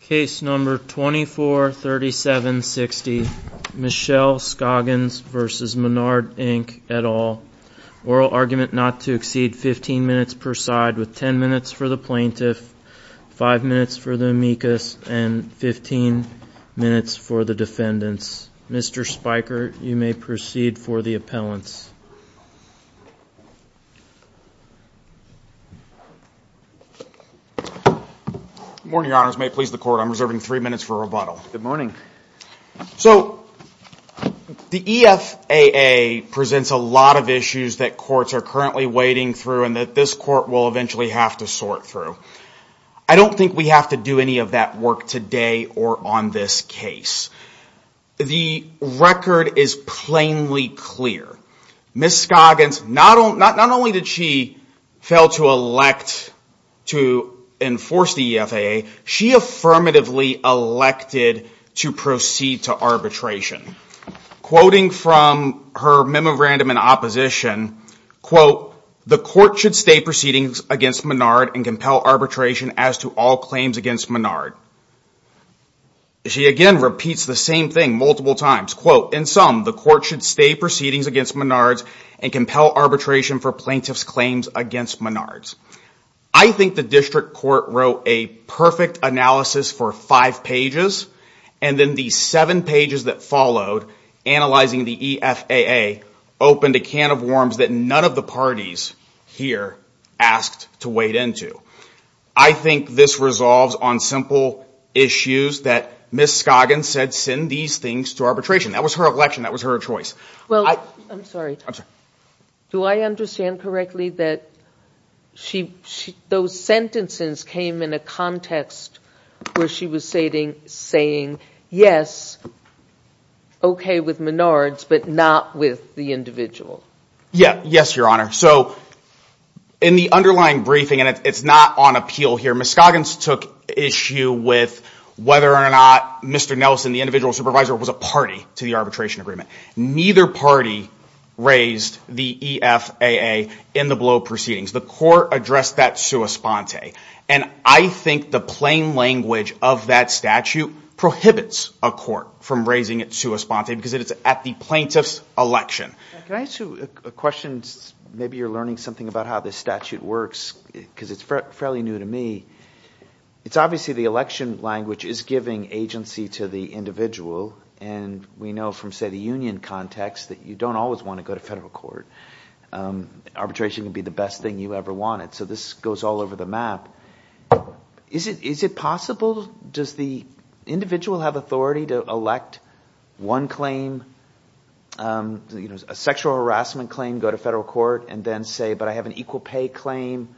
Case number 243760, Michelle Scoggins v. Menard, Inc., et al. Oral argument not to exceed 15 minutes per side, with 10 minutes for the plaintiff, 5 minutes for the amicus, and 15 minutes for the defendants. Mr. Spiker, you may proceed for the appellants. Good morning, your honors. May it please the court, I'm reserving three minutes for rebuttal. Good morning. So, the EFAA presents a lot of issues that courts are currently wading through and that this court will eventually have to sort through. I don't think we have to do any of that work today or on this case. The record is plainly clear. Ms. Scoggins, not only did she fail to elect to enforce the EFAA, she affirmatively elected to proceed to arbitration. Quoting from her memorandum in opposition, quote, The court should stay proceedings against Menard and compel arbitration as to all claims against Menard. She again repeats the same thing multiple times, quote, In sum, the court should stay proceedings against Menard and compel arbitration for plaintiff's claims against Menard. I think the district court wrote a perfect analysis for five pages and then the seven pages that followed analyzing the EFAA opened a can of worms that none of the parties here asked to wade into. I think this resolves on simple issues that Ms. Scoggins said send these things to arbitration. That was her election. That was her choice. I'm sorry. Do I understand correctly that those sentences came in a context where she was saying yes, okay with Menard's but not with the individual? Yes, Your Honor. So in the underlying briefing, and it's not on appeal here, Ms. Scoggins took issue with whether or not Mr. Nelson, the individual supervisor, was a party to the arbitration agreement. Neither party raised the EFAA in the below proceedings. The court addressed that sua sponte. And I think the plain language of that statute prohibits a court from raising it sua sponte because it is at the plaintiff's election. Can I ask you a question? Maybe you're learning something about how this statute works because it's fairly new to me. It's obviously the election language is giving agency to the individual. And we know from, say, the union context that you don't always want to go to federal court. Arbitration can be the best thing you ever wanted. So this goes all over the map. Is it possible – does the individual have authority to elect one claim, a sexual harassment claim, go to federal court and then say, but I have an equal pay claim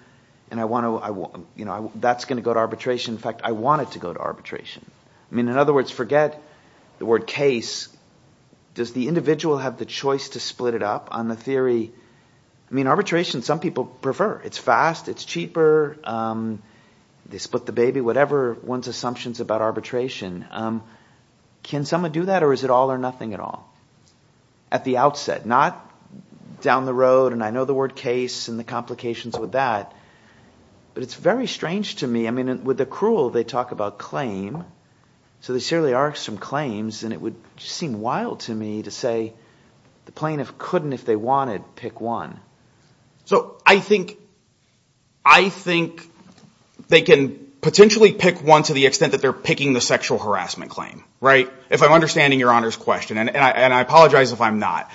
and I want to – that's going to go to arbitration. In fact, I want it to go to arbitration. In other words, forget the word case. Does the individual have the choice to split it up on the theory – I mean arbitration, some people prefer. It's fast. It's cheaper. They split the baby, whatever one's assumptions about arbitration. Can someone do that or is it all or nothing at all at the outset, not down the road? And I know the word case and the complications with that. But it's very strange to me. I mean with the cruel, they talk about claim. So there certainly are some claims, and it would seem wild to me to say the plaintiff couldn't if they wanted pick one. So I think they can potentially pick one to the extent that they're picking the sexual harassment claim, right? If I'm understanding Your Honor's question, and I apologize if I'm not,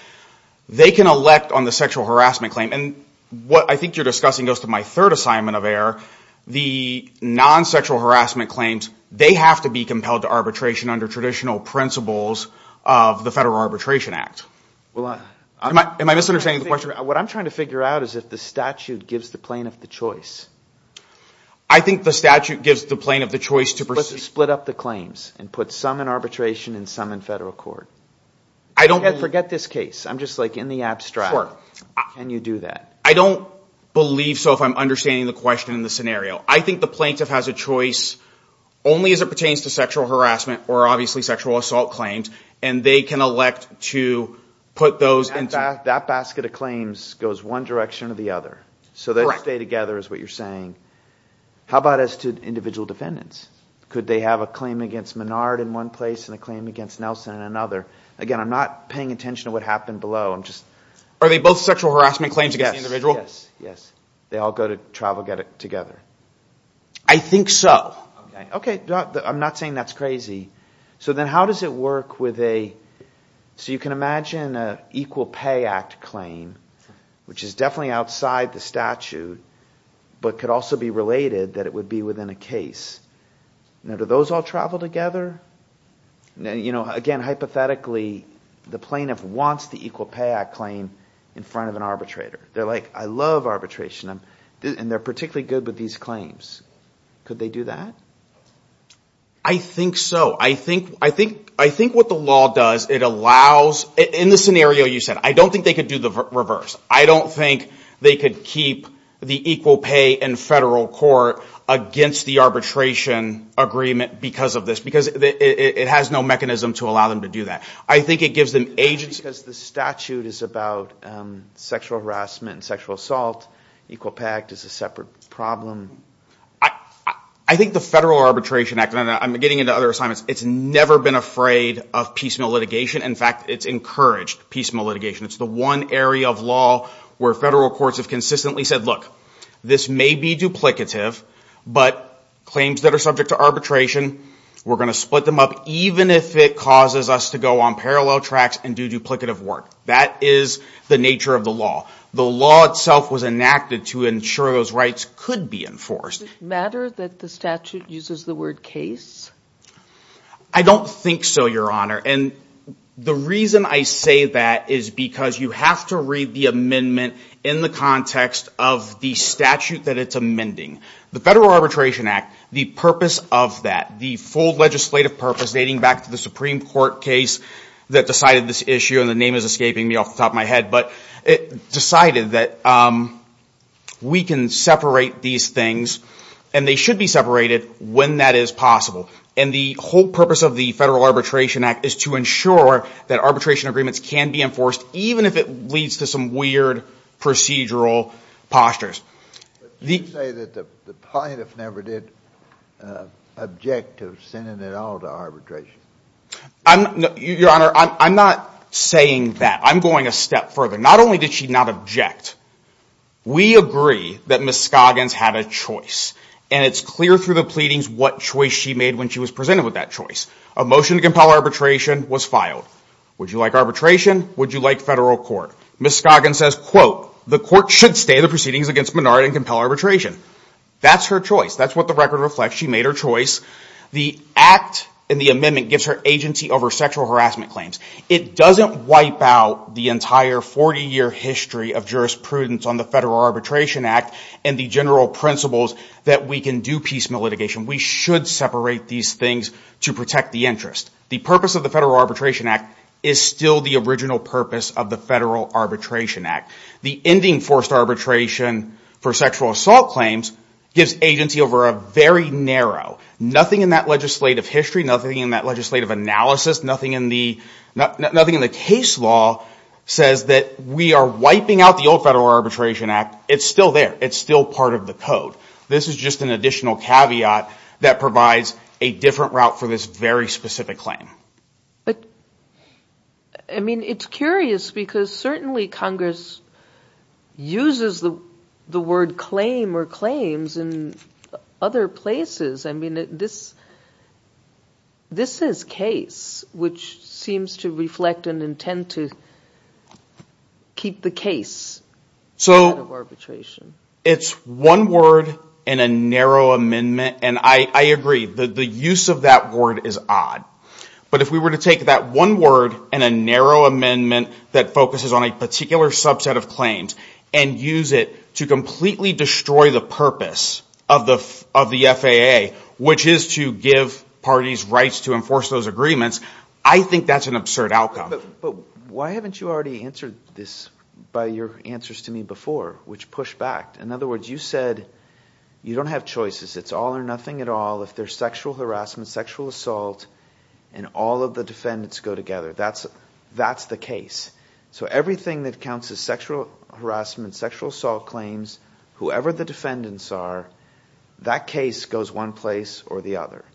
they can elect on the sexual harassment claim. And what I think you're discussing goes to my third assignment of error. The non-sexual harassment claims, they have to be compelled to arbitration under traditional principles of the Federal Arbitration Act. Am I misunderstanding the question? What I'm trying to figure out is if the statute gives the plaintiff the choice. I think the statute gives the plaintiff the choice to split up the claims and put some in arbitration and some in federal court. Forget this case. I'm just like in the abstract. Can you do that? I don't believe so if I'm understanding the question and the scenario. I think the plaintiff has a choice only as it pertains to sexual harassment or obviously sexual assault claims. And they can elect to put those in. That basket of claims goes one direction or the other. So they stay together is what you're saying. How about as to individual defendants? Could they have a claim against Menard in one place and a claim against Nelson in another? Again, I'm not paying attention to what happened below. Are they both sexual harassment claims against the individual? Yes, yes. They all go to travel together. I think so. Okay. I'm not saying that's crazy. So then how does it work with a – so you can imagine an Equal Pay Act claim, which is definitely outside the statute but could also be related that it would be within a case. Now, do those all travel together? Again, hypothetically, the plaintiff wants the Equal Pay Act claim in front of an arbitrator. They're like, I love arbitration and they're particularly good with these claims. Could they do that? I think so. I think what the law does, it allows – in the scenario you said, I don't think they could do the reverse. I don't think they could keep the equal pay in federal court against the arbitration agreement because of this, because it has no mechanism to allow them to do that. I think it gives them agency. Because the statute is about sexual harassment and sexual assault. Equal Pay Act is a separate problem. I think the Federal Arbitration Act, and I'm getting into other assignments, it's never been afraid of piecemeal litigation. In fact, it's encouraged piecemeal litigation. It's the one area of law where federal courts have consistently said, look, this may be duplicative, but claims that are subject to arbitration, we're going to split them up even if it causes us to go on parallel tracks and do duplicative work. That is the nature of the law. The law itself was enacted to ensure those rights could be enforced. Does it matter that the statute uses the word case? I don't think so, Your Honor. And the reason I say that is because you have to read the amendment in the context of the statute that it's amending. The Federal Arbitration Act, the purpose of that, the full legislative purpose dating back to the Supreme Court case that decided this issue, and the name is escaping me off the top of my head. But it decided that we can separate these things, and they should be separated when that is possible. And the whole purpose of the Federal Arbitration Act is to ensure that arbitration agreements can be enforced even if it leads to some weird procedural postures. You say that the plaintiff never did object to sending it all to arbitration. Your Honor, I'm not saying that. I'm going a step further. Not only did she not object, we agree that Ms. Scoggins had a choice. And it's clear through the pleadings what choice she made when she was presented with that choice. A motion to compel arbitration was filed. Would you like arbitration? Would you like federal court? Ms. Scoggins says, quote, the court should stay the proceedings against Menard and compel arbitration. That's her choice. That's what the record reflects. She made her choice. The act in the amendment gives her agency over sexual harassment claims. It doesn't wipe out the entire 40-year history of jurisprudence on the Federal Arbitration Act and the general principles that we can do piecemeal litigation. We should separate these things to protect the interest. The purpose of the Federal Arbitration Act is still the original purpose of the Federal Arbitration Act. The ending forced arbitration for sexual assault claims gives agency over a very narrow, nothing in that legislative history, nothing in that legislative analysis, nothing in the case law says that we are wiping out the old Federal Arbitration Act. It's still there. It's still part of the code. This is just an additional caveat that provides a different route for this very specific claim. But, I mean, it's curious because certainly Congress uses the word claim or claims in other places. I mean, this is case, which seems to reflect an intent to keep the case out of arbitration. So it's one word in a narrow amendment, and I agree. The use of that word is odd. But if we were to take that one word in a narrow amendment that focuses on a particular subset of claims and use it to completely destroy the purpose of the FAA, which is to give parties rights to enforce those agreements, I think that's an absurd outcome. But why haven't you already answered this by your answers to me before, which pushed back? In other words, you said you don't have choices. It's all or nothing at all if there's sexual harassment, sexual assault, and all of the defendants go together. That's the case. So everything that counts as sexual harassment, sexual assault claims, whoever the defendants are, that case goes one place or the other.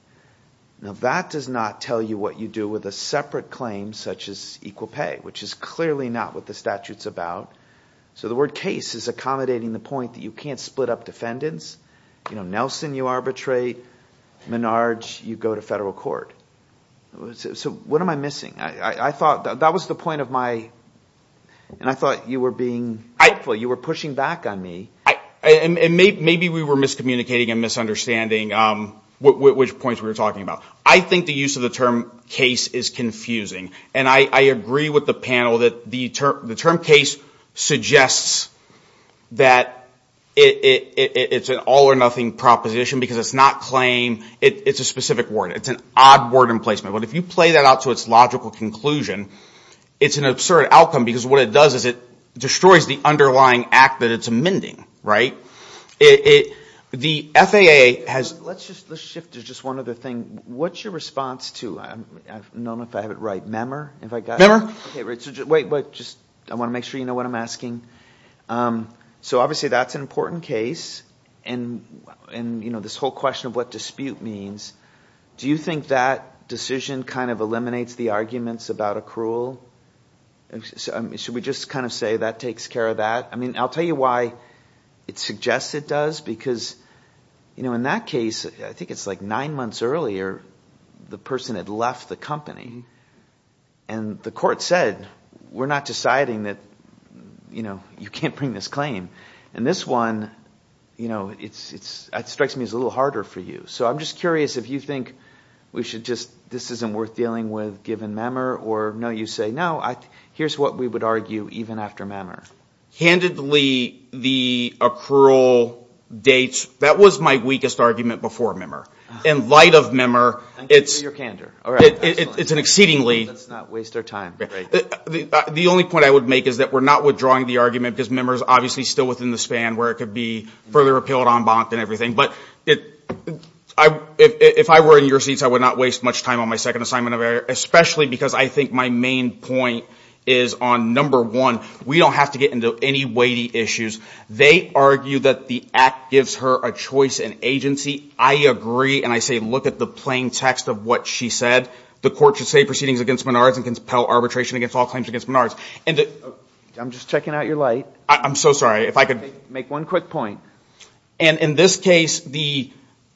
Now, that does not tell you what you do with a separate claim such as equal pay, which is clearly not what the statute's about. So the word case is accommodating the point that you can't split up defendants. Nelson, you arbitrate. Menard, you go to federal court. So what am I missing? I thought that was the point of my ‑‑ and I thought you were being helpful. You were pushing back on me. And maybe we were miscommunicating and misunderstanding which points we were talking about. I think the use of the term case is confusing. And I agree with the panel that the term case suggests that it's an all or nothing proposition because it's not claim. It's a specific word. It's an odd word in placement. But if you play that out to its logical conclusion, it's an absurd outcome because what it does is it destroys the underlying act that it's amending. Right? The FAA has ‑‑ Let's shift to just one other thing. What's your response to ‑‑ I don't know if I have it right. Memer? I want to make sure you know what I'm asking. So obviously that's an important case. And, you know, this whole question of what dispute means, do you think that decision kind of eliminates the arguments about accrual? Should we just kind of say that takes care of that? I mean, I'll tell you why it suggests it does. Because, you know, in that case, I think it's like nine months earlier, the person had left the company. And the court said we're not deciding that, you know, you can't bring this claim. And this one, you know, it strikes me as a little harder for you. So I'm just curious if you think we should just ‑‑ this isn't worth dealing with given Memer. Or no, you say, no, here's what we would argue even after Memer. Candidly, the accrual dates, that was my weakest argument before Memer. In light of Memer, it's an exceedingly ‑‑ Let's not waste our time. The only point I would make is that we're not withdrawing the argument because Memer is obviously still within the span where it could be further repealed en banc and everything. But if I were in your seats, I would not waste much time on my second assignment of error, especially because I think my main point is on number one, we don't have to get into any weighty issues. They argue that the act gives her a choice in agency. I agree, and I say look at the plain text of what she said. The court should say proceedings against Menard's and compel arbitration against all claims against Menard's. I'm just checking out your light. I'm so sorry. If I could make one quick point. And in this case, the ‑‑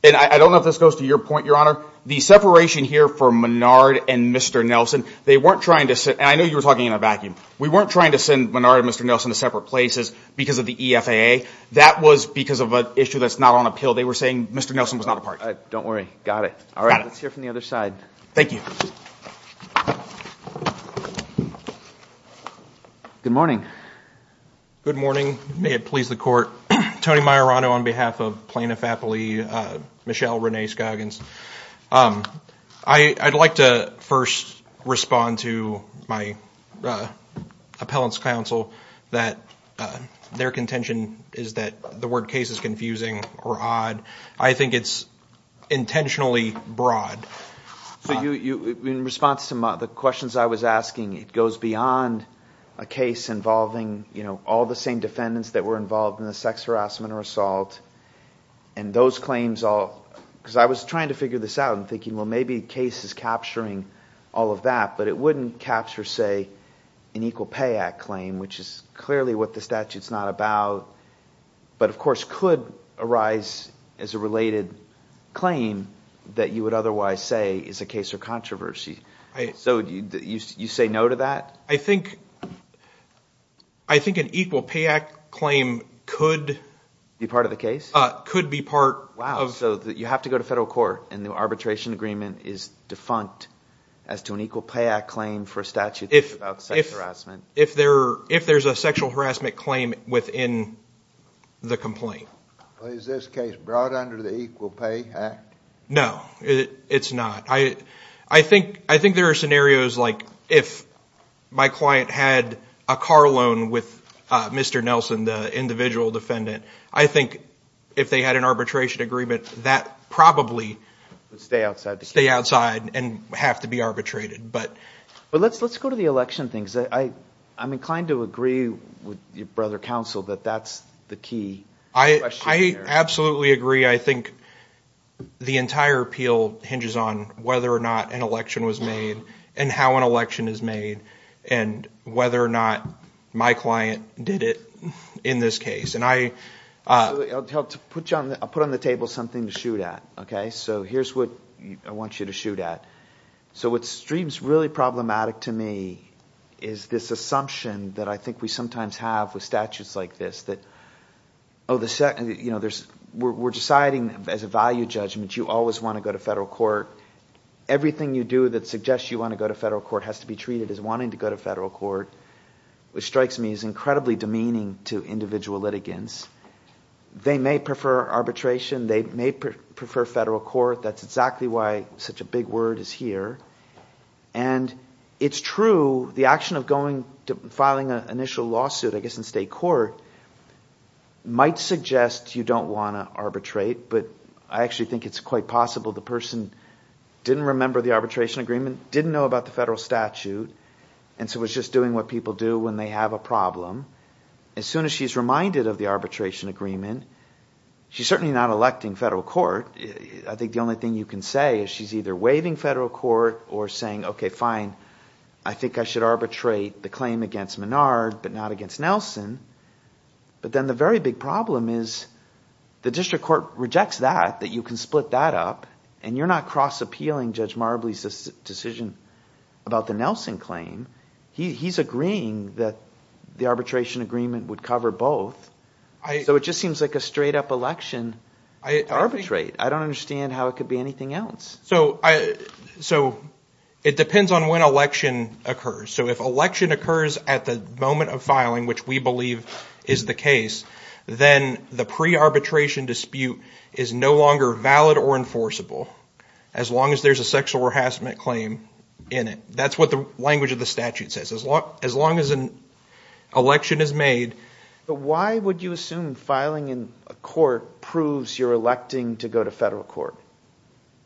and I don't know if this goes to your point, Your Honor. The separation here for Menard and Mr. Nelson, they weren't trying to ‑‑ and I know you were talking in a vacuum. We weren't trying to send Menard and Mr. Nelson to separate places because of the EFAA. That was because of an issue that's not on appeal. They were saying Mr. Nelson was not a part of it. Don't worry. Got it. All right. Let's hear from the other side. Thank you. Good morning. Good morning. May it please the court. Tony Majorano on behalf of Plaintiff Appellee, Michelle Renee Scoggins. I'd like to first respond to my appellant's counsel that their contention is that the word case is confusing or odd. I think it's intentionally broad. In response to the questions I was asking, it goes beyond a case involving, you know, all the same defendants that were involved in the sex harassment or assault and those claims all ‑‑ because I was trying to figure this out and thinking, well, maybe case is capturing all of that, but it wouldn't capture, say, an Equal Pay Act claim, which is clearly what the statute is not about, but of course could arise as a related claim that you would otherwise say is a case of controversy. So you say no to that? I think an Equal Pay Act claim could ‑‑ Be part of the case? Could be part of ‑‑ Wow. So you have to go to federal court and the arbitration agreement is defunct as to an Equal Pay Act claim for a statute about sex harassment. If there's a sexual harassment claim within the complaint. Is this case brought under the Equal Pay Act? No, it's not. I think there are scenarios like if my client had a car loan with Mr. Nelson, the individual defendant, I think if they had an arbitration agreement, that probably would stay outside and have to be arbitrated. But let's go to the election thing. I'm inclined to agree with your brother counsel that that's the key question there. I absolutely agree. I think the entire appeal hinges on whether or not an election was made and how an election is made and whether or not my client did it in this case. I'll put on the table something to shoot at. So here's what I want you to shoot at. So what seems really problematic to me is this assumption that I think we sometimes have with statutes like this. We're deciding as a value judgment you always want to go to federal court. Everything you do that suggests you want to go to federal court has to be treated as wanting to go to federal court, which strikes me as incredibly demeaning to individual litigants. They may prefer arbitration. They may prefer federal court. That's exactly why such a big word is here. And it's true, the action of filing an initial lawsuit, I guess, in state court might suggest you don't want to arbitrate, but I actually think it's quite possible the person didn't remember the arbitration agreement, didn't know about the federal statute, and so was just doing what people do when they have a problem. As soon as she's reminded of the arbitration agreement, she's certainly not electing federal court. I think the only thing you can say is she's either waiving federal court or saying, okay, fine, I think I should arbitrate the claim against Menard but not against Nelson. But then the very big problem is the district court rejects that, that you can split that up, and you're not cross-appealing Judge Marbley's decision about the Nelson claim. He's agreeing that the arbitration agreement would cover both. So it just seems like a straight-up election to arbitrate. I don't understand how it could be anything else. So it depends on when election occurs. So if election occurs at the moment of filing, which we believe is the case, then the pre-arbitration dispute is no longer valid or enforceable as long as there's a sexual harassment claim in it. That's what the language of the statute says. As long as an election is made. But why would you assume filing in court proves you're electing to go to federal court?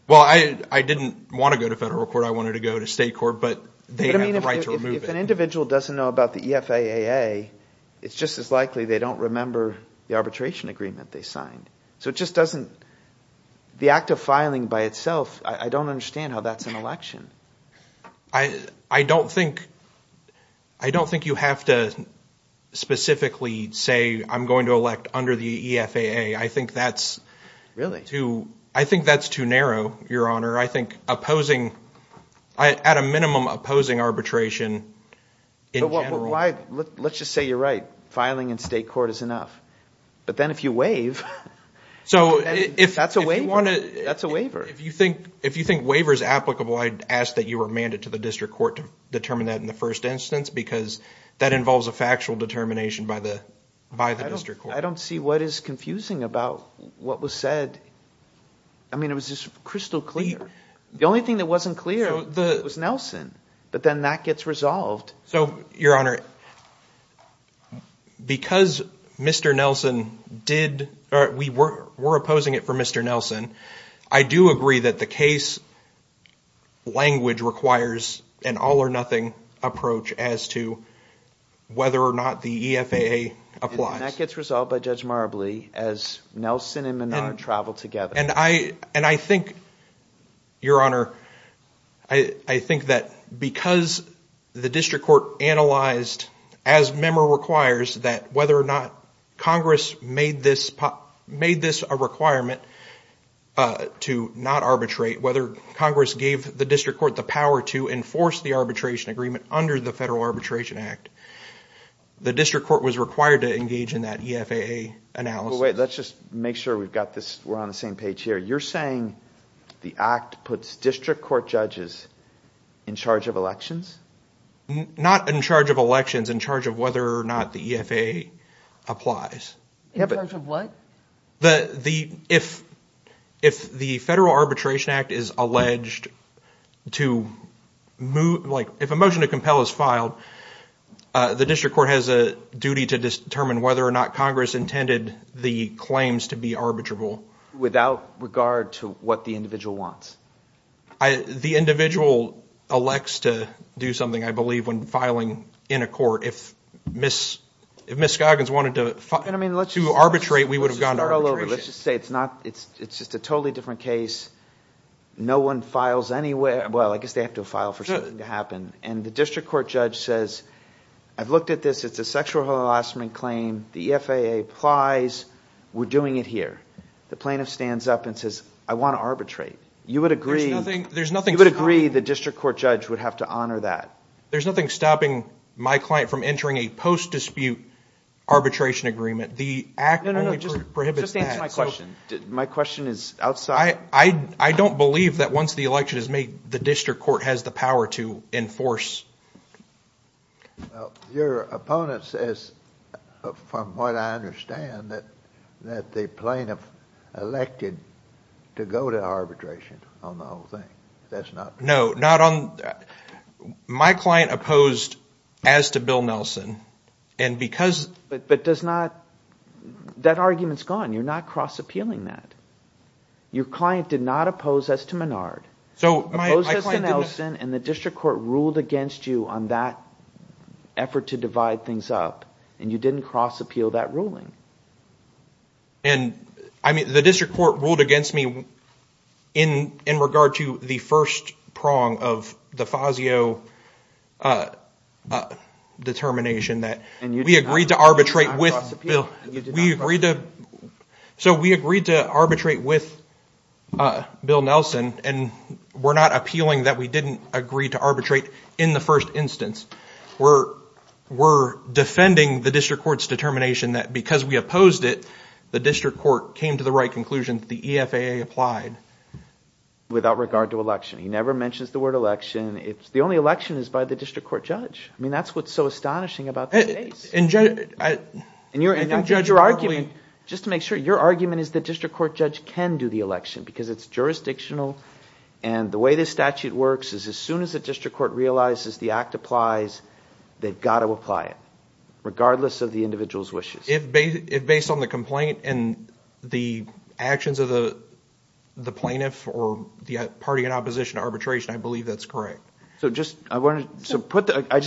Well, I didn't want to go to federal court. I wanted to go to state court, but they have the right to remove it. If an individual doesn't know about the EFAA, it's just as likely they don't remember the arbitration agreement they signed. So it just doesn't – the act of filing by itself, I don't understand how that's an election. I don't think you have to specifically say I'm going to elect under the EFAA. I think that's too narrow, Your Honor. I think opposing – at a minimum, opposing arbitration in general. Let's just say you're right. Filing in state court is enough. But then if you waive, that's a waiver. If you think waiver is applicable, I'd ask that you remand it to the district court to determine that in the first instance because that involves a factual determination by the district court. I don't see what is confusing about what was said. I mean it was just crystal clear. The only thing that wasn't clear was Nelson. But then that gets resolved. So, Your Honor, because Mr. Nelson did – we're opposing it for Mr. Nelson, I do agree that the case language requires an all-or-nothing approach as to whether or not the EFAA applies. And that gets resolved by Judge Marabli as Nelson and Menard travel together. And I think, Your Honor, I think that because the district court analyzed, as memo requires, that whether or not Congress made this a requirement to not arbitrate, whether Congress gave the district court the power to enforce the arbitration agreement under the Federal Arbitration Act, the district court was required to engage in that EFAA analysis. Wait, let's just make sure we've got this – we're on the same page here. You're saying the act puts district court judges in charge of elections? Not in charge of elections. In charge of whether or not the EFAA applies. In charge of what? If the Federal Arbitration Act is alleged to – like if a motion to compel is filed, the district court has a duty to determine whether or not Congress intended the claims to be arbitrable. Without regard to what the individual wants? The individual elects to do something, I believe, when filing in a court. If Ms. Goggins wanted to arbitrate, we would have gone to arbitration. Let's just say it's not – it's just a totally different case. No one files anywhere – well, I guess they have to file for something to happen. And the district court judge says, I've looked at this. It's a sexual harassment claim. The EFAA applies. We're doing it here. The plaintiff stands up and says, I want to arbitrate. You would agree – There's nothing – You would agree the district court judge would have to honor that? There's nothing stopping my client from entering a post-dispute arbitration agreement. The act only prohibits that. No, no, no. Just answer my question. My question is outside – I don't believe that once the election is made, the district court has the power to enforce. Your opponent says, from what I understand, that the plaintiff elected to go to arbitration on the whole thing. That's not – No, not on – my client opposed as to Bill Nelson, and because – But does not – that argument is gone. You're not cross-appealing that. Your client did not oppose as to Menard. So my – Opposed as to Nelson, and the district court ruled against you on that effort to divide things up, and you didn't cross-appeal that ruling. And, I mean, the district court ruled against me in regard to the first prong of the FASIO determination that we agreed to arbitrate with – And you did not cross-appeal. So we agreed to arbitrate with Bill Nelson, and we're not appealing that we didn't agree to arbitrate in the first instance. We're defending the district court's determination that because we opposed it, the district court came to the right conclusion that the EFAA applied. Without regard to election. He never mentions the word election. The only election is by the district court judge. I mean, that's what's so astonishing about this case. And judge – And I think your argument – just to make sure, your argument is the district court judge can do the election because it's jurisdictional. And the way this statute works is as soon as the district court realizes the act applies, they've got to apply it regardless of the individual's wishes. If based on the complaint and the actions of the plaintiff or the party in opposition to arbitration, I believe that's correct. I just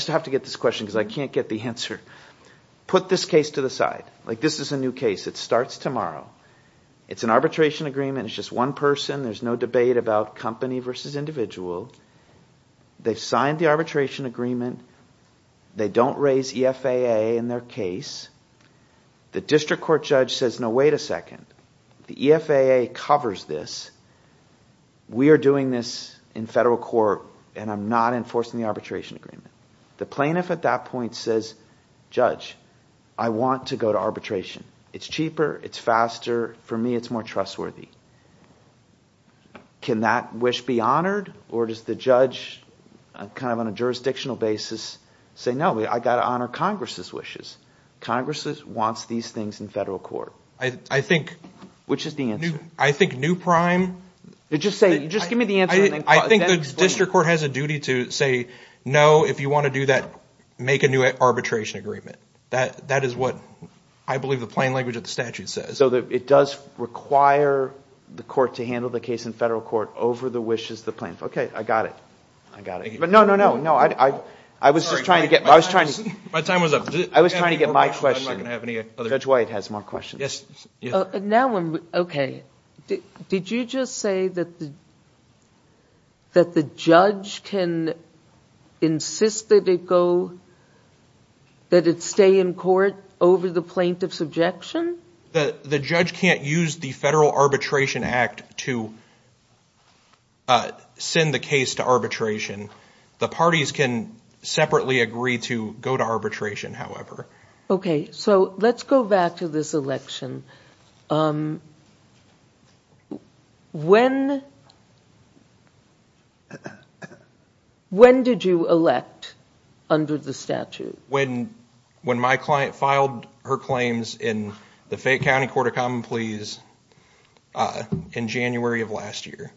have to get this question because I can't get the answer. Put this case to the side. This is a new case. It starts tomorrow. It's an arbitration agreement. It's just one person. There's no debate about company versus individual. They've signed the arbitration agreement. They don't raise EFAA in their case. The district court judge says, no, wait a second. The EFAA covers this. We are doing this in federal court, and I'm not enforcing the arbitration agreement. The plaintiff at that point says, judge, I want to go to arbitration. It's cheaper. It's faster. For me, it's more trustworthy. Can that wish be honored or does the judge kind of on a jurisdictional basis say, no, I've got to honor Congress's wishes? Congress wants these things in federal court. I think – Which is the answer? I think new prime – Just give me the answer. I think the district court has a duty to say, no, if you want to do that, make a new arbitration agreement. That is what I believe the plain language of the statute says. So it does require the court to handle the case in federal court over the wishes of the plaintiff. Okay, I got it. I got it. But no, no, no. I was just trying to get – My time was up. I was trying to get my question. Judge White has more questions. Yes. Okay. Did you just say that the judge can insist that it go – that it stay in court over the plaintiff's objection? The judge can't use the Federal Arbitration Act to send the case to arbitration. The parties can separately agree to go to arbitration, however. Okay, so let's go back to this election. When did you elect under the statute? When my client filed her claims in the Fayette County Court of Common Pleas in January of last year.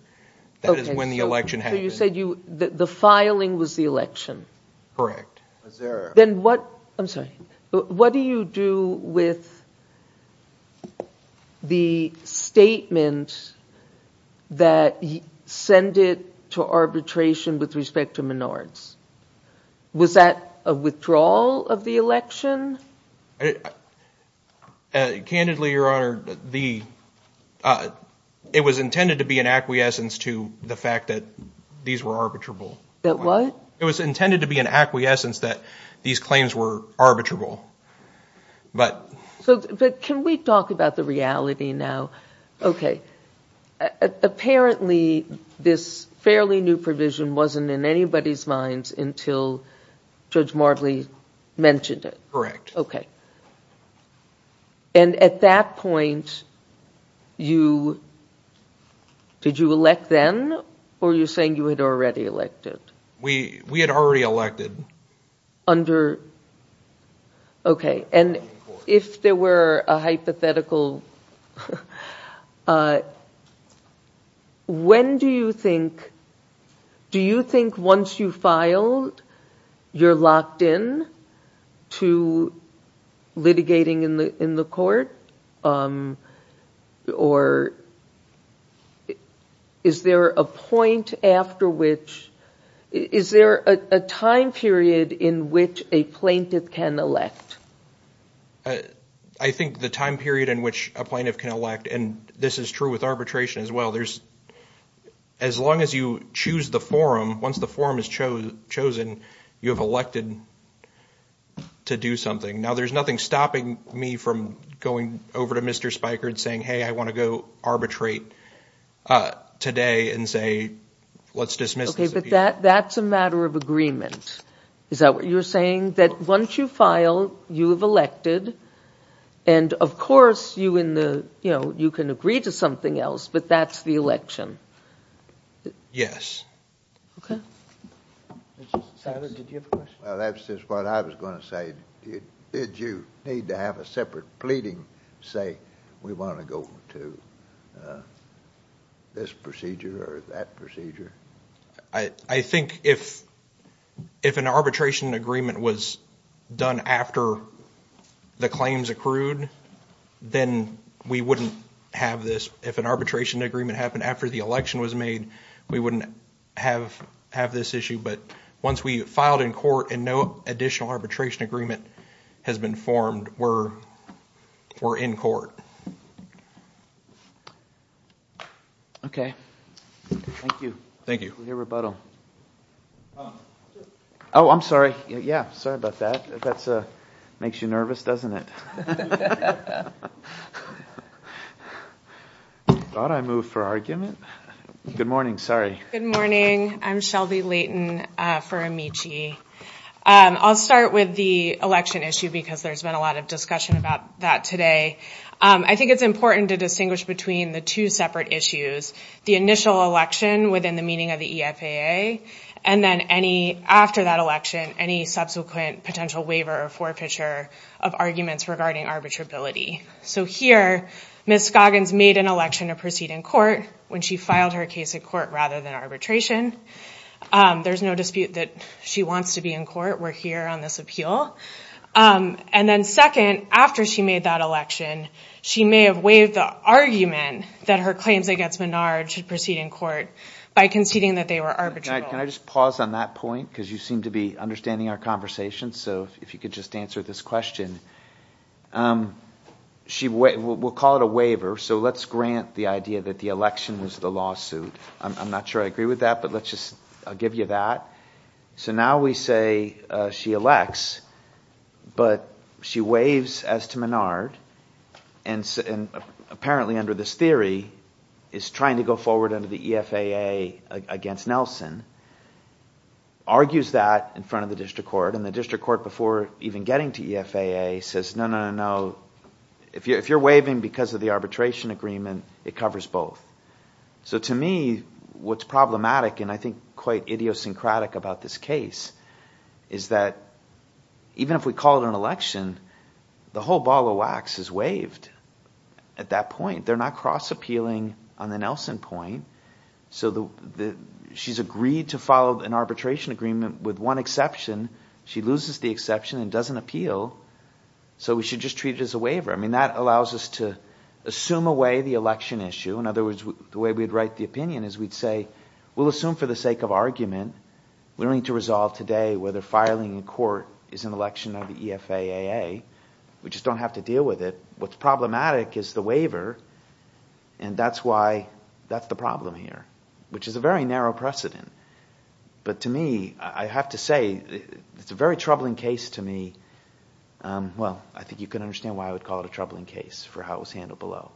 That is when the election happened. So you said the filing was the election. Correct. Then what – I'm sorry. What do you do with the statement that you send it to arbitration with respect to minors? Was that a withdrawal of the election? Candidly, Your Honor, the – it was intended to be an acquiescence to the fact that these were arbitrable. That what? It was intended to be an acquiescence that these claims were arbitrable. But – But can we talk about the reality now? Apparently, this fairly new provision wasn't in anybody's minds until Judge Martley mentioned it. Correct. Okay. And at that point, you – did you elect then or are you saying you had already elected? We had already elected. Under – okay. And if there were a hypothetical – when do you think – do you think once you file, you're locked in to litigating in the court? Or is there a point after which – is there a time period in which a plaintiff can elect? I think the time period in which a plaintiff can elect, and this is true with arbitration as well, there's – as long as you choose the forum, once the forum is chosen, you have elected to do something. Now, there's nothing stopping me from going over to Mr. Spiker and saying, hey, I want to go arbitrate today and say, let's dismiss this appeal. But that's a matter of agreement. Is that what you're saying? That once you file, you have elected, and of course, you in the – you know, you can agree to something else, but that's the election. Yes. Okay. Senator, did you have a question? Well, that's just what I was going to say. Did you need to have a separate pleading say, we want to go to this procedure or that procedure? I think if an arbitration agreement was done after the claims accrued, then we wouldn't have this. If an arbitration agreement happened after the election was made, we wouldn't have this issue. But once we filed in court and no additional arbitration agreement has been formed, we're in court. Okay. Thank you. Thank you. For your rebuttal. Oh, I'm sorry. Yeah, sorry about that. That makes you nervous, doesn't it? Thought I moved for argument. Good morning. Sorry. Good morning. I'm Shelby Leighton for Amici. I'll start with the election issue because there's been a lot of discussion about that today. I think it's important to distinguish between the two separate issues, the initial election within the meaning of the EFAA, and then any – after that election, any subsequent potential waiver or forfeiture of arguments regarding arbitrability. So here, Ms. Scoggins made an election to proceed in court when she filed her case in court rather than arbitration. There's no dispute that she wants to be in court. We're here on this appeal. And then second, after she made that election, she may have waived the argument that her claims against Menard should proceed in court by conceding that they were arbitrable. Can I just pause on that point? Because you seem to be understanding our conversation, so if you could just answer this question. She – we'll call it a waiver, so let's grant the idea that the election was the lawsuit. I'm not sure I agree with that, but let's just – I'll give you that. So now we say she elects, but she waives as to Menard and apparently under this theory is trying to go forward under the EFAA against Nelson, argues that in front of the district court, and the district court before even getting to EFAA says, no, no, no, no. If you're waiving because of the arbitration agreement, it covers both. So to me, what's problematic and I think quite idiosyncratic about this case is that even if we call it an election, the whole ball of wax is waived at that point. They're not cross-appealing on the Nelson point. So she's agreed to follow an arbitration agreement with one exception. She loses the exception and doesn't appeal, so we should just treat it as a waiver. I mean that allows us to assume away the election issue. In other words, the way we'd write the opinion is we'd say we'll assume for the sake of argument. We don't need to resolve today whether filing in court is an election of the EFAA. We just don't have to deal with it. What's problematic is the waiver, and that's why that's the problem here, which is a very narrow precedent. But to me, I have to say it's a very troubling case to me. Well, I think you can understand why I would call it a troubling case for how it was handled below.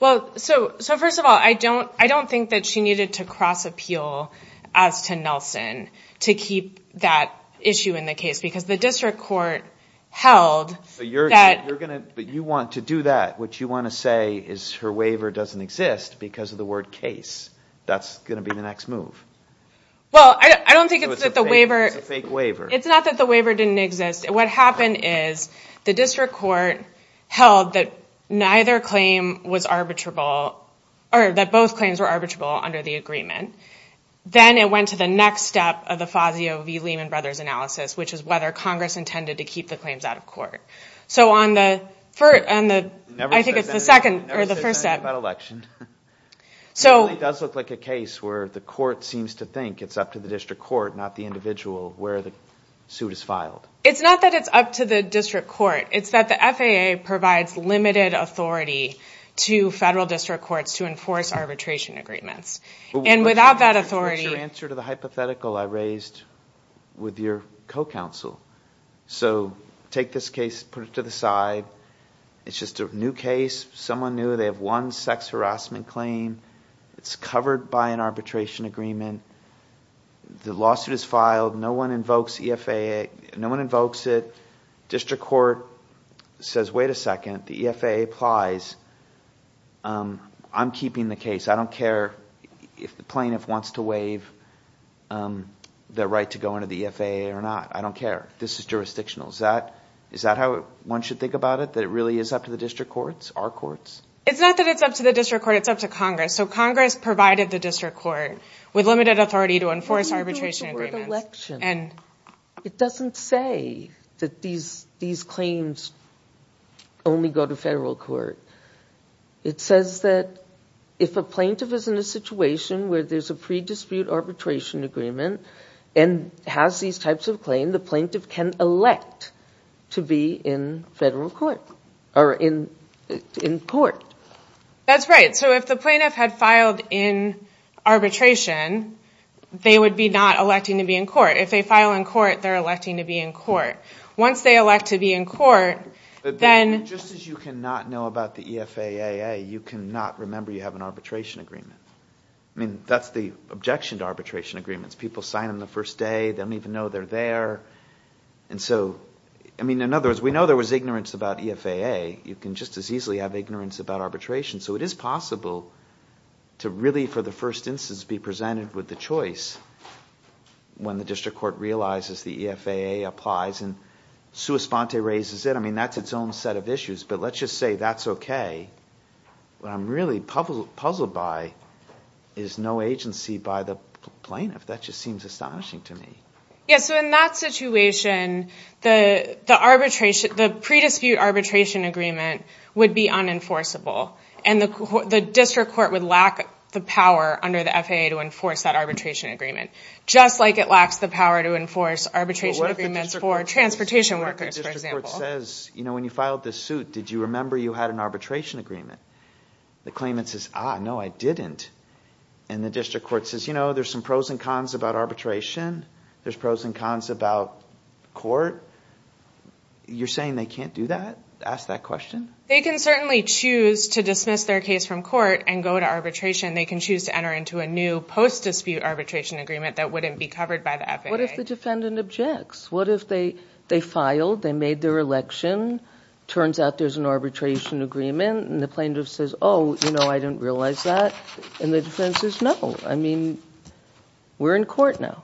Well, so first of all, I don't think that she needed to cross-appeal as to Nelson to keep that issue in the case because the district court held that – But you want to do that. What you want to say is her waiver doesn't exist because of the word case. That's going to be the next move. Well, I don't think it's that the waiver – So it's a fake waiver. It's not that the waiver didn't exist. What happened is the district court held that neither claim was arbitrable – or that both claims were arbitrable under the agreement. Then it went to the next step of the Fazio v. Lehman Brothers analysis, which is whether Congress intended to keep the claims out of court. So on the – I think it's the second or the first step. It never says anything about election. It really does look like a case where the court seems to think it's up to the district court, not the individual, where the suit is filed. It's not that it's up to the district court. It's that the FAA provides limited authority to federal district courts to enforce arbitration agreements. And without that authority – So take this case, put it to the side. It's just a new case. Someone knew they have one sex harassment claim. It's covered by an arbitration agreement. The lawsuit is filed. No one invokes EFAA. No one invokes it. District court says, wait a second. The EFAA applies. I'm keeping the case. I don't care if the plaintiff wants to waive the right to go into the EFAA or not. I don't care. This is jurisdictional. Is that how one should think about it, that it really is up to the district courts, our courts? It's not that it's up to the district court. It's up to Congress. So Congress provided the district court with limited authority to enforce arbitration agreements. It doesn't say that these claims only go to federal court. It says that if a plaintiff is in a situation where there's a pre-dispute arbitration agreement and has these types of claims, the plaintiff can elect to be in federal court or in court. That's right. So if the plaintiff had filed in arbitration, they would be not electing to be in court. If they file in court, they're electing to be in court. Once they elect to be in court, then – If you do not know about the EFAA, you cannot remember you have an arbitration agreement. That's the objection to arbitration agreements. People sign them the first day. They don't even know they're there. In other words, we know there was ignorance about EFAA. You can just as easily have ignorance about arbitration. So it is possible to really for the first instance be presented with the choice when the district court realizes the EFAA applies and sua sponte raises it. That's its own set of issues. But let's just say that's okay. What I'm really puzzled by is no agency by the plaintiff. That just seems astonishing to me. Yeah, so in that situation, the pre-dispute arbitration agreement would be unenforceable. And the district court would lack the power under the EFAA to enforce that arbitration agreement, just like it lacks the power to enforce arbitration agreements for transportation workers, for example. And the district court says, you know, when you filed this suit, did you remember you had an arbitration agreement? The claimant says, ah, no, I didn't. And the district court says, you know, there's some pros and cons about arbitration. There's pros and cons about court. You're saying they can't do that, ask that question? They can certainly choose to dismiss their case from court and go to arbitration. They can choose to enter into a new post-dispute arbitration agreement that wouldn't be covered by the EFAA. What if the defendant objects? What if they filed, they made their election, turns out there's an arbitration agreement, and the plaintiff says, oh, you know, I didn't realize that. And the defense says, no, I mean, we're in court now.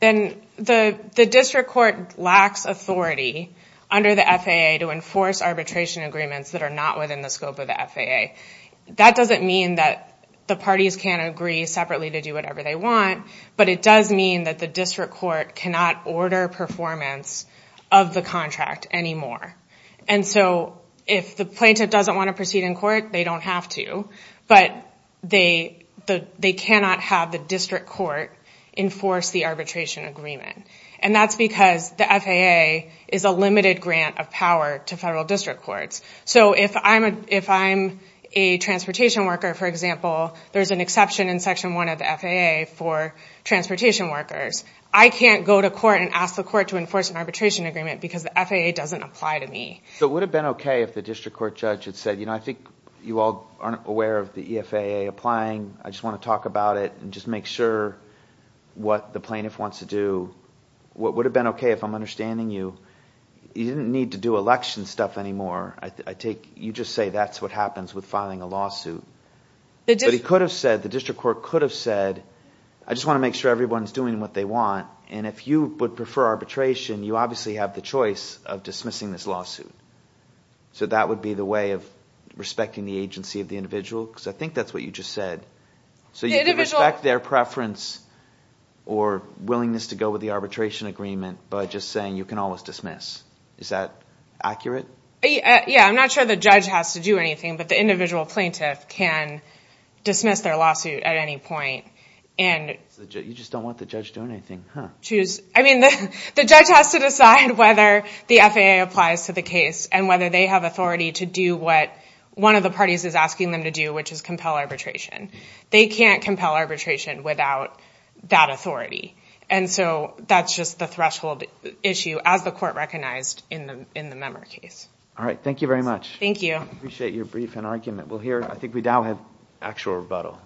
Then the district court lacks authority under the EFAA to enforce arbitration agreements that are not within the scope of the EFAA. That doesn't mean that the parties can't agree separately to do whatever they want, but it does mean that the district court cannot order performance of the contract anymore. And so if the plaintiff doesn't want to proceed in court, they don't have to, but they cannot have the district court enforce the arbitration agreement. And that's because the FAA is a limited grant of power to federal district courts. So if I'm a transportation worker, for example, there's an exception in Section 1 of the FAA for transportation workers. I can't go to court and ask the court to enforce an arbitration agreement because the FAA doesn't apply to me. So it would have been okay if the district court judge had said, you know, I think you all aren't aware of the EFAA applying. I just want to talk about it and just make sure what the plaintiff wants to do. It would have been okay if I'm understanding you. You didn't need to do election stuff anymore. You just say that's what happens with filing a lawsuit. But he could have said, the district court could have said, I just want to make sure everyone is doing what they want, and if you would prefer arbitration, you obviously have the choice of dismissing this lawsuit. So that would be the way of respecting the agency of the individual? Because I think that's what you just said. So you can respect their preference or willingness to go with the arbitration agreement by just saying you can always dismiss. Is that accurate? Yeah, I'm not sure the judge has to do anything, but the individual plaintiff can dismiss their lawsuit at any point. You just don't want the judge doing anything, huh? I mean, the judge has to decide whether the FAA applies to the case and whether they have authority to do what one of the parties is asking them to do, which is compel arbitration. They can't compel arbitration without that authority. And so that's just the threshold issue, as the court recognized in the member case. All right, thank you very much. Thank you. I appreciate your brief and argument. I think we now have actual rebuttal.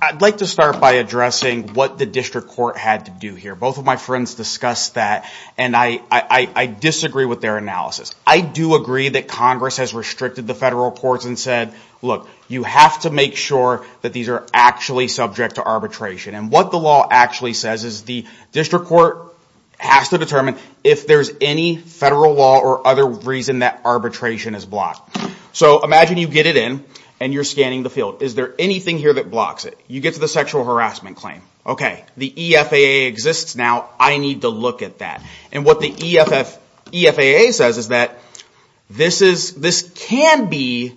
I'd like to start by addressing what the district court had to do here. Both of my friends discussed that, and I disagree with their analysis. I do agree that Congress has restricted the federal courts and said, look, you have to make sure that these are actually subject to arbitration. And what the law actually says is the district court has to determine if there's any federal law or other reason that arbitration is blocked. So imagine you get it in and you're scanning the field. Is there anything here that blocks it? You get to the sexual harassment claim. Okay, the EFAA exists now. I need to look at that. And what the EFAA says is that this can be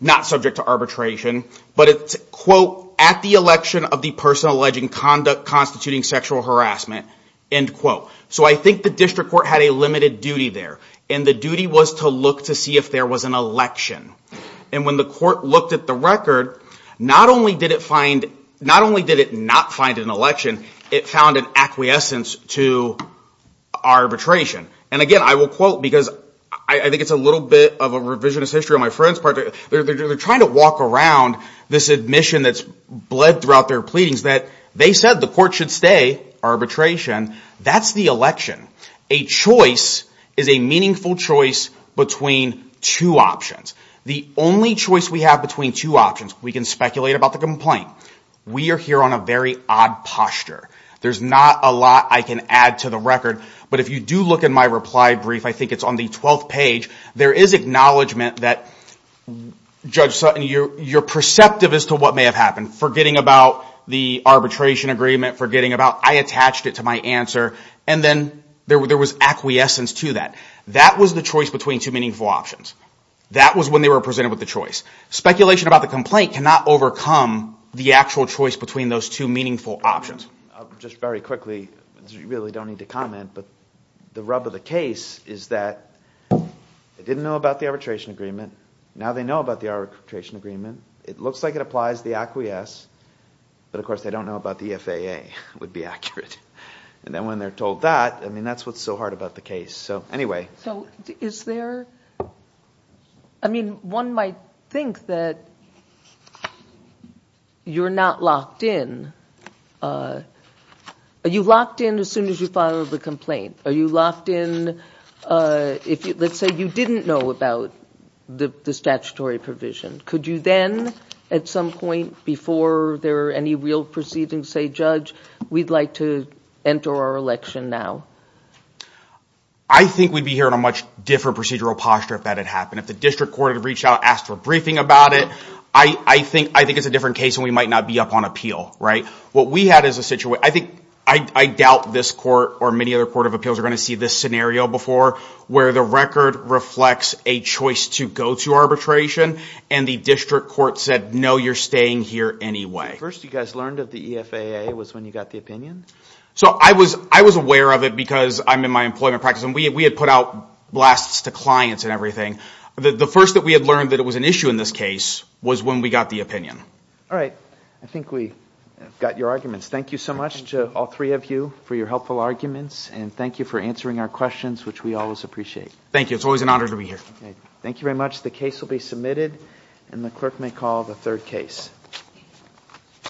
not subject to arbitration, but it's, quote, at the election of the person alleging conduct constituting sexual harassment, end quote. So I think the district court had a limited duty there. And the duty was to look to see if there was an election. And when the court looked at the record, not only did it not find an election, it found an acquiescence to arbitration. And again, I will quote because I think it's a little bit of a revisionist history on my friend's part. They're trying to walk around this admission that's bled throughout their pleadings that they said the court should stay arbitration. That's the election. A choice is a meaningful choice between two options. The only choice we have between two options, we can speculate about the complaint. We are here on a very odd posture. There's not a lot I can add to the record. But if you do look at my reply brief, I think it's on the 12th page, there is acknowledgment that, Judge Sutton, you're perceptive as to what may have happened, forgetting about the arbitration agreement, forgetting about I attached it to my answer, and then there was acquiescence to that. That was the choice between two meaningful options. That was when they were presented with the choice. Speculation about the complaint cannot overcome the actual choice between those two meaningful options. Just very quickly, you really don't need to comment, but the rub of the case is that they didn't know about the arbitration agreement. Now they know about the arbitration agreement. It looks like it applies the acquiesce, but of course they don't know about the FAA, would be accurate. And then when they're told that, I mean, that's what's so hard about the case. So is there, I mean, one might think that you're not locked in. Are you locked in as soon as you file the complaint? Are you locked in if, let's say, you didn't know about the statutory provision? Could you then at some point before there are any real proceedings say, Judge, we'd like to enter our election now? I think we'd be here in a much different procedural posture if that had happened. If the district court had reached out, asked for a briefing about it, I think it's a different case and we might not be up on appeal. What we had is a situation, I think, I doubt this court or many other court of appeals are going to see this scenario before where the record reflects a choice to go to arbitration and the district court said, no, you're staying here anyway. The first you guys learned of the EFAA was when you got the opinion? So I was aware of it because I'm in my employment practice and we had put out blasts to clients and everything. The first that we had learned that it was an issue in this case was when we got the opinion. All right. I think we got your arguments. Thank you so much to all three of you for your helpful arguments and thank you for answering our questions, which we always appreciate. Thank you. It's always an honor to be here. Thank you very much. The case will be submitted and the clerk may call the third case.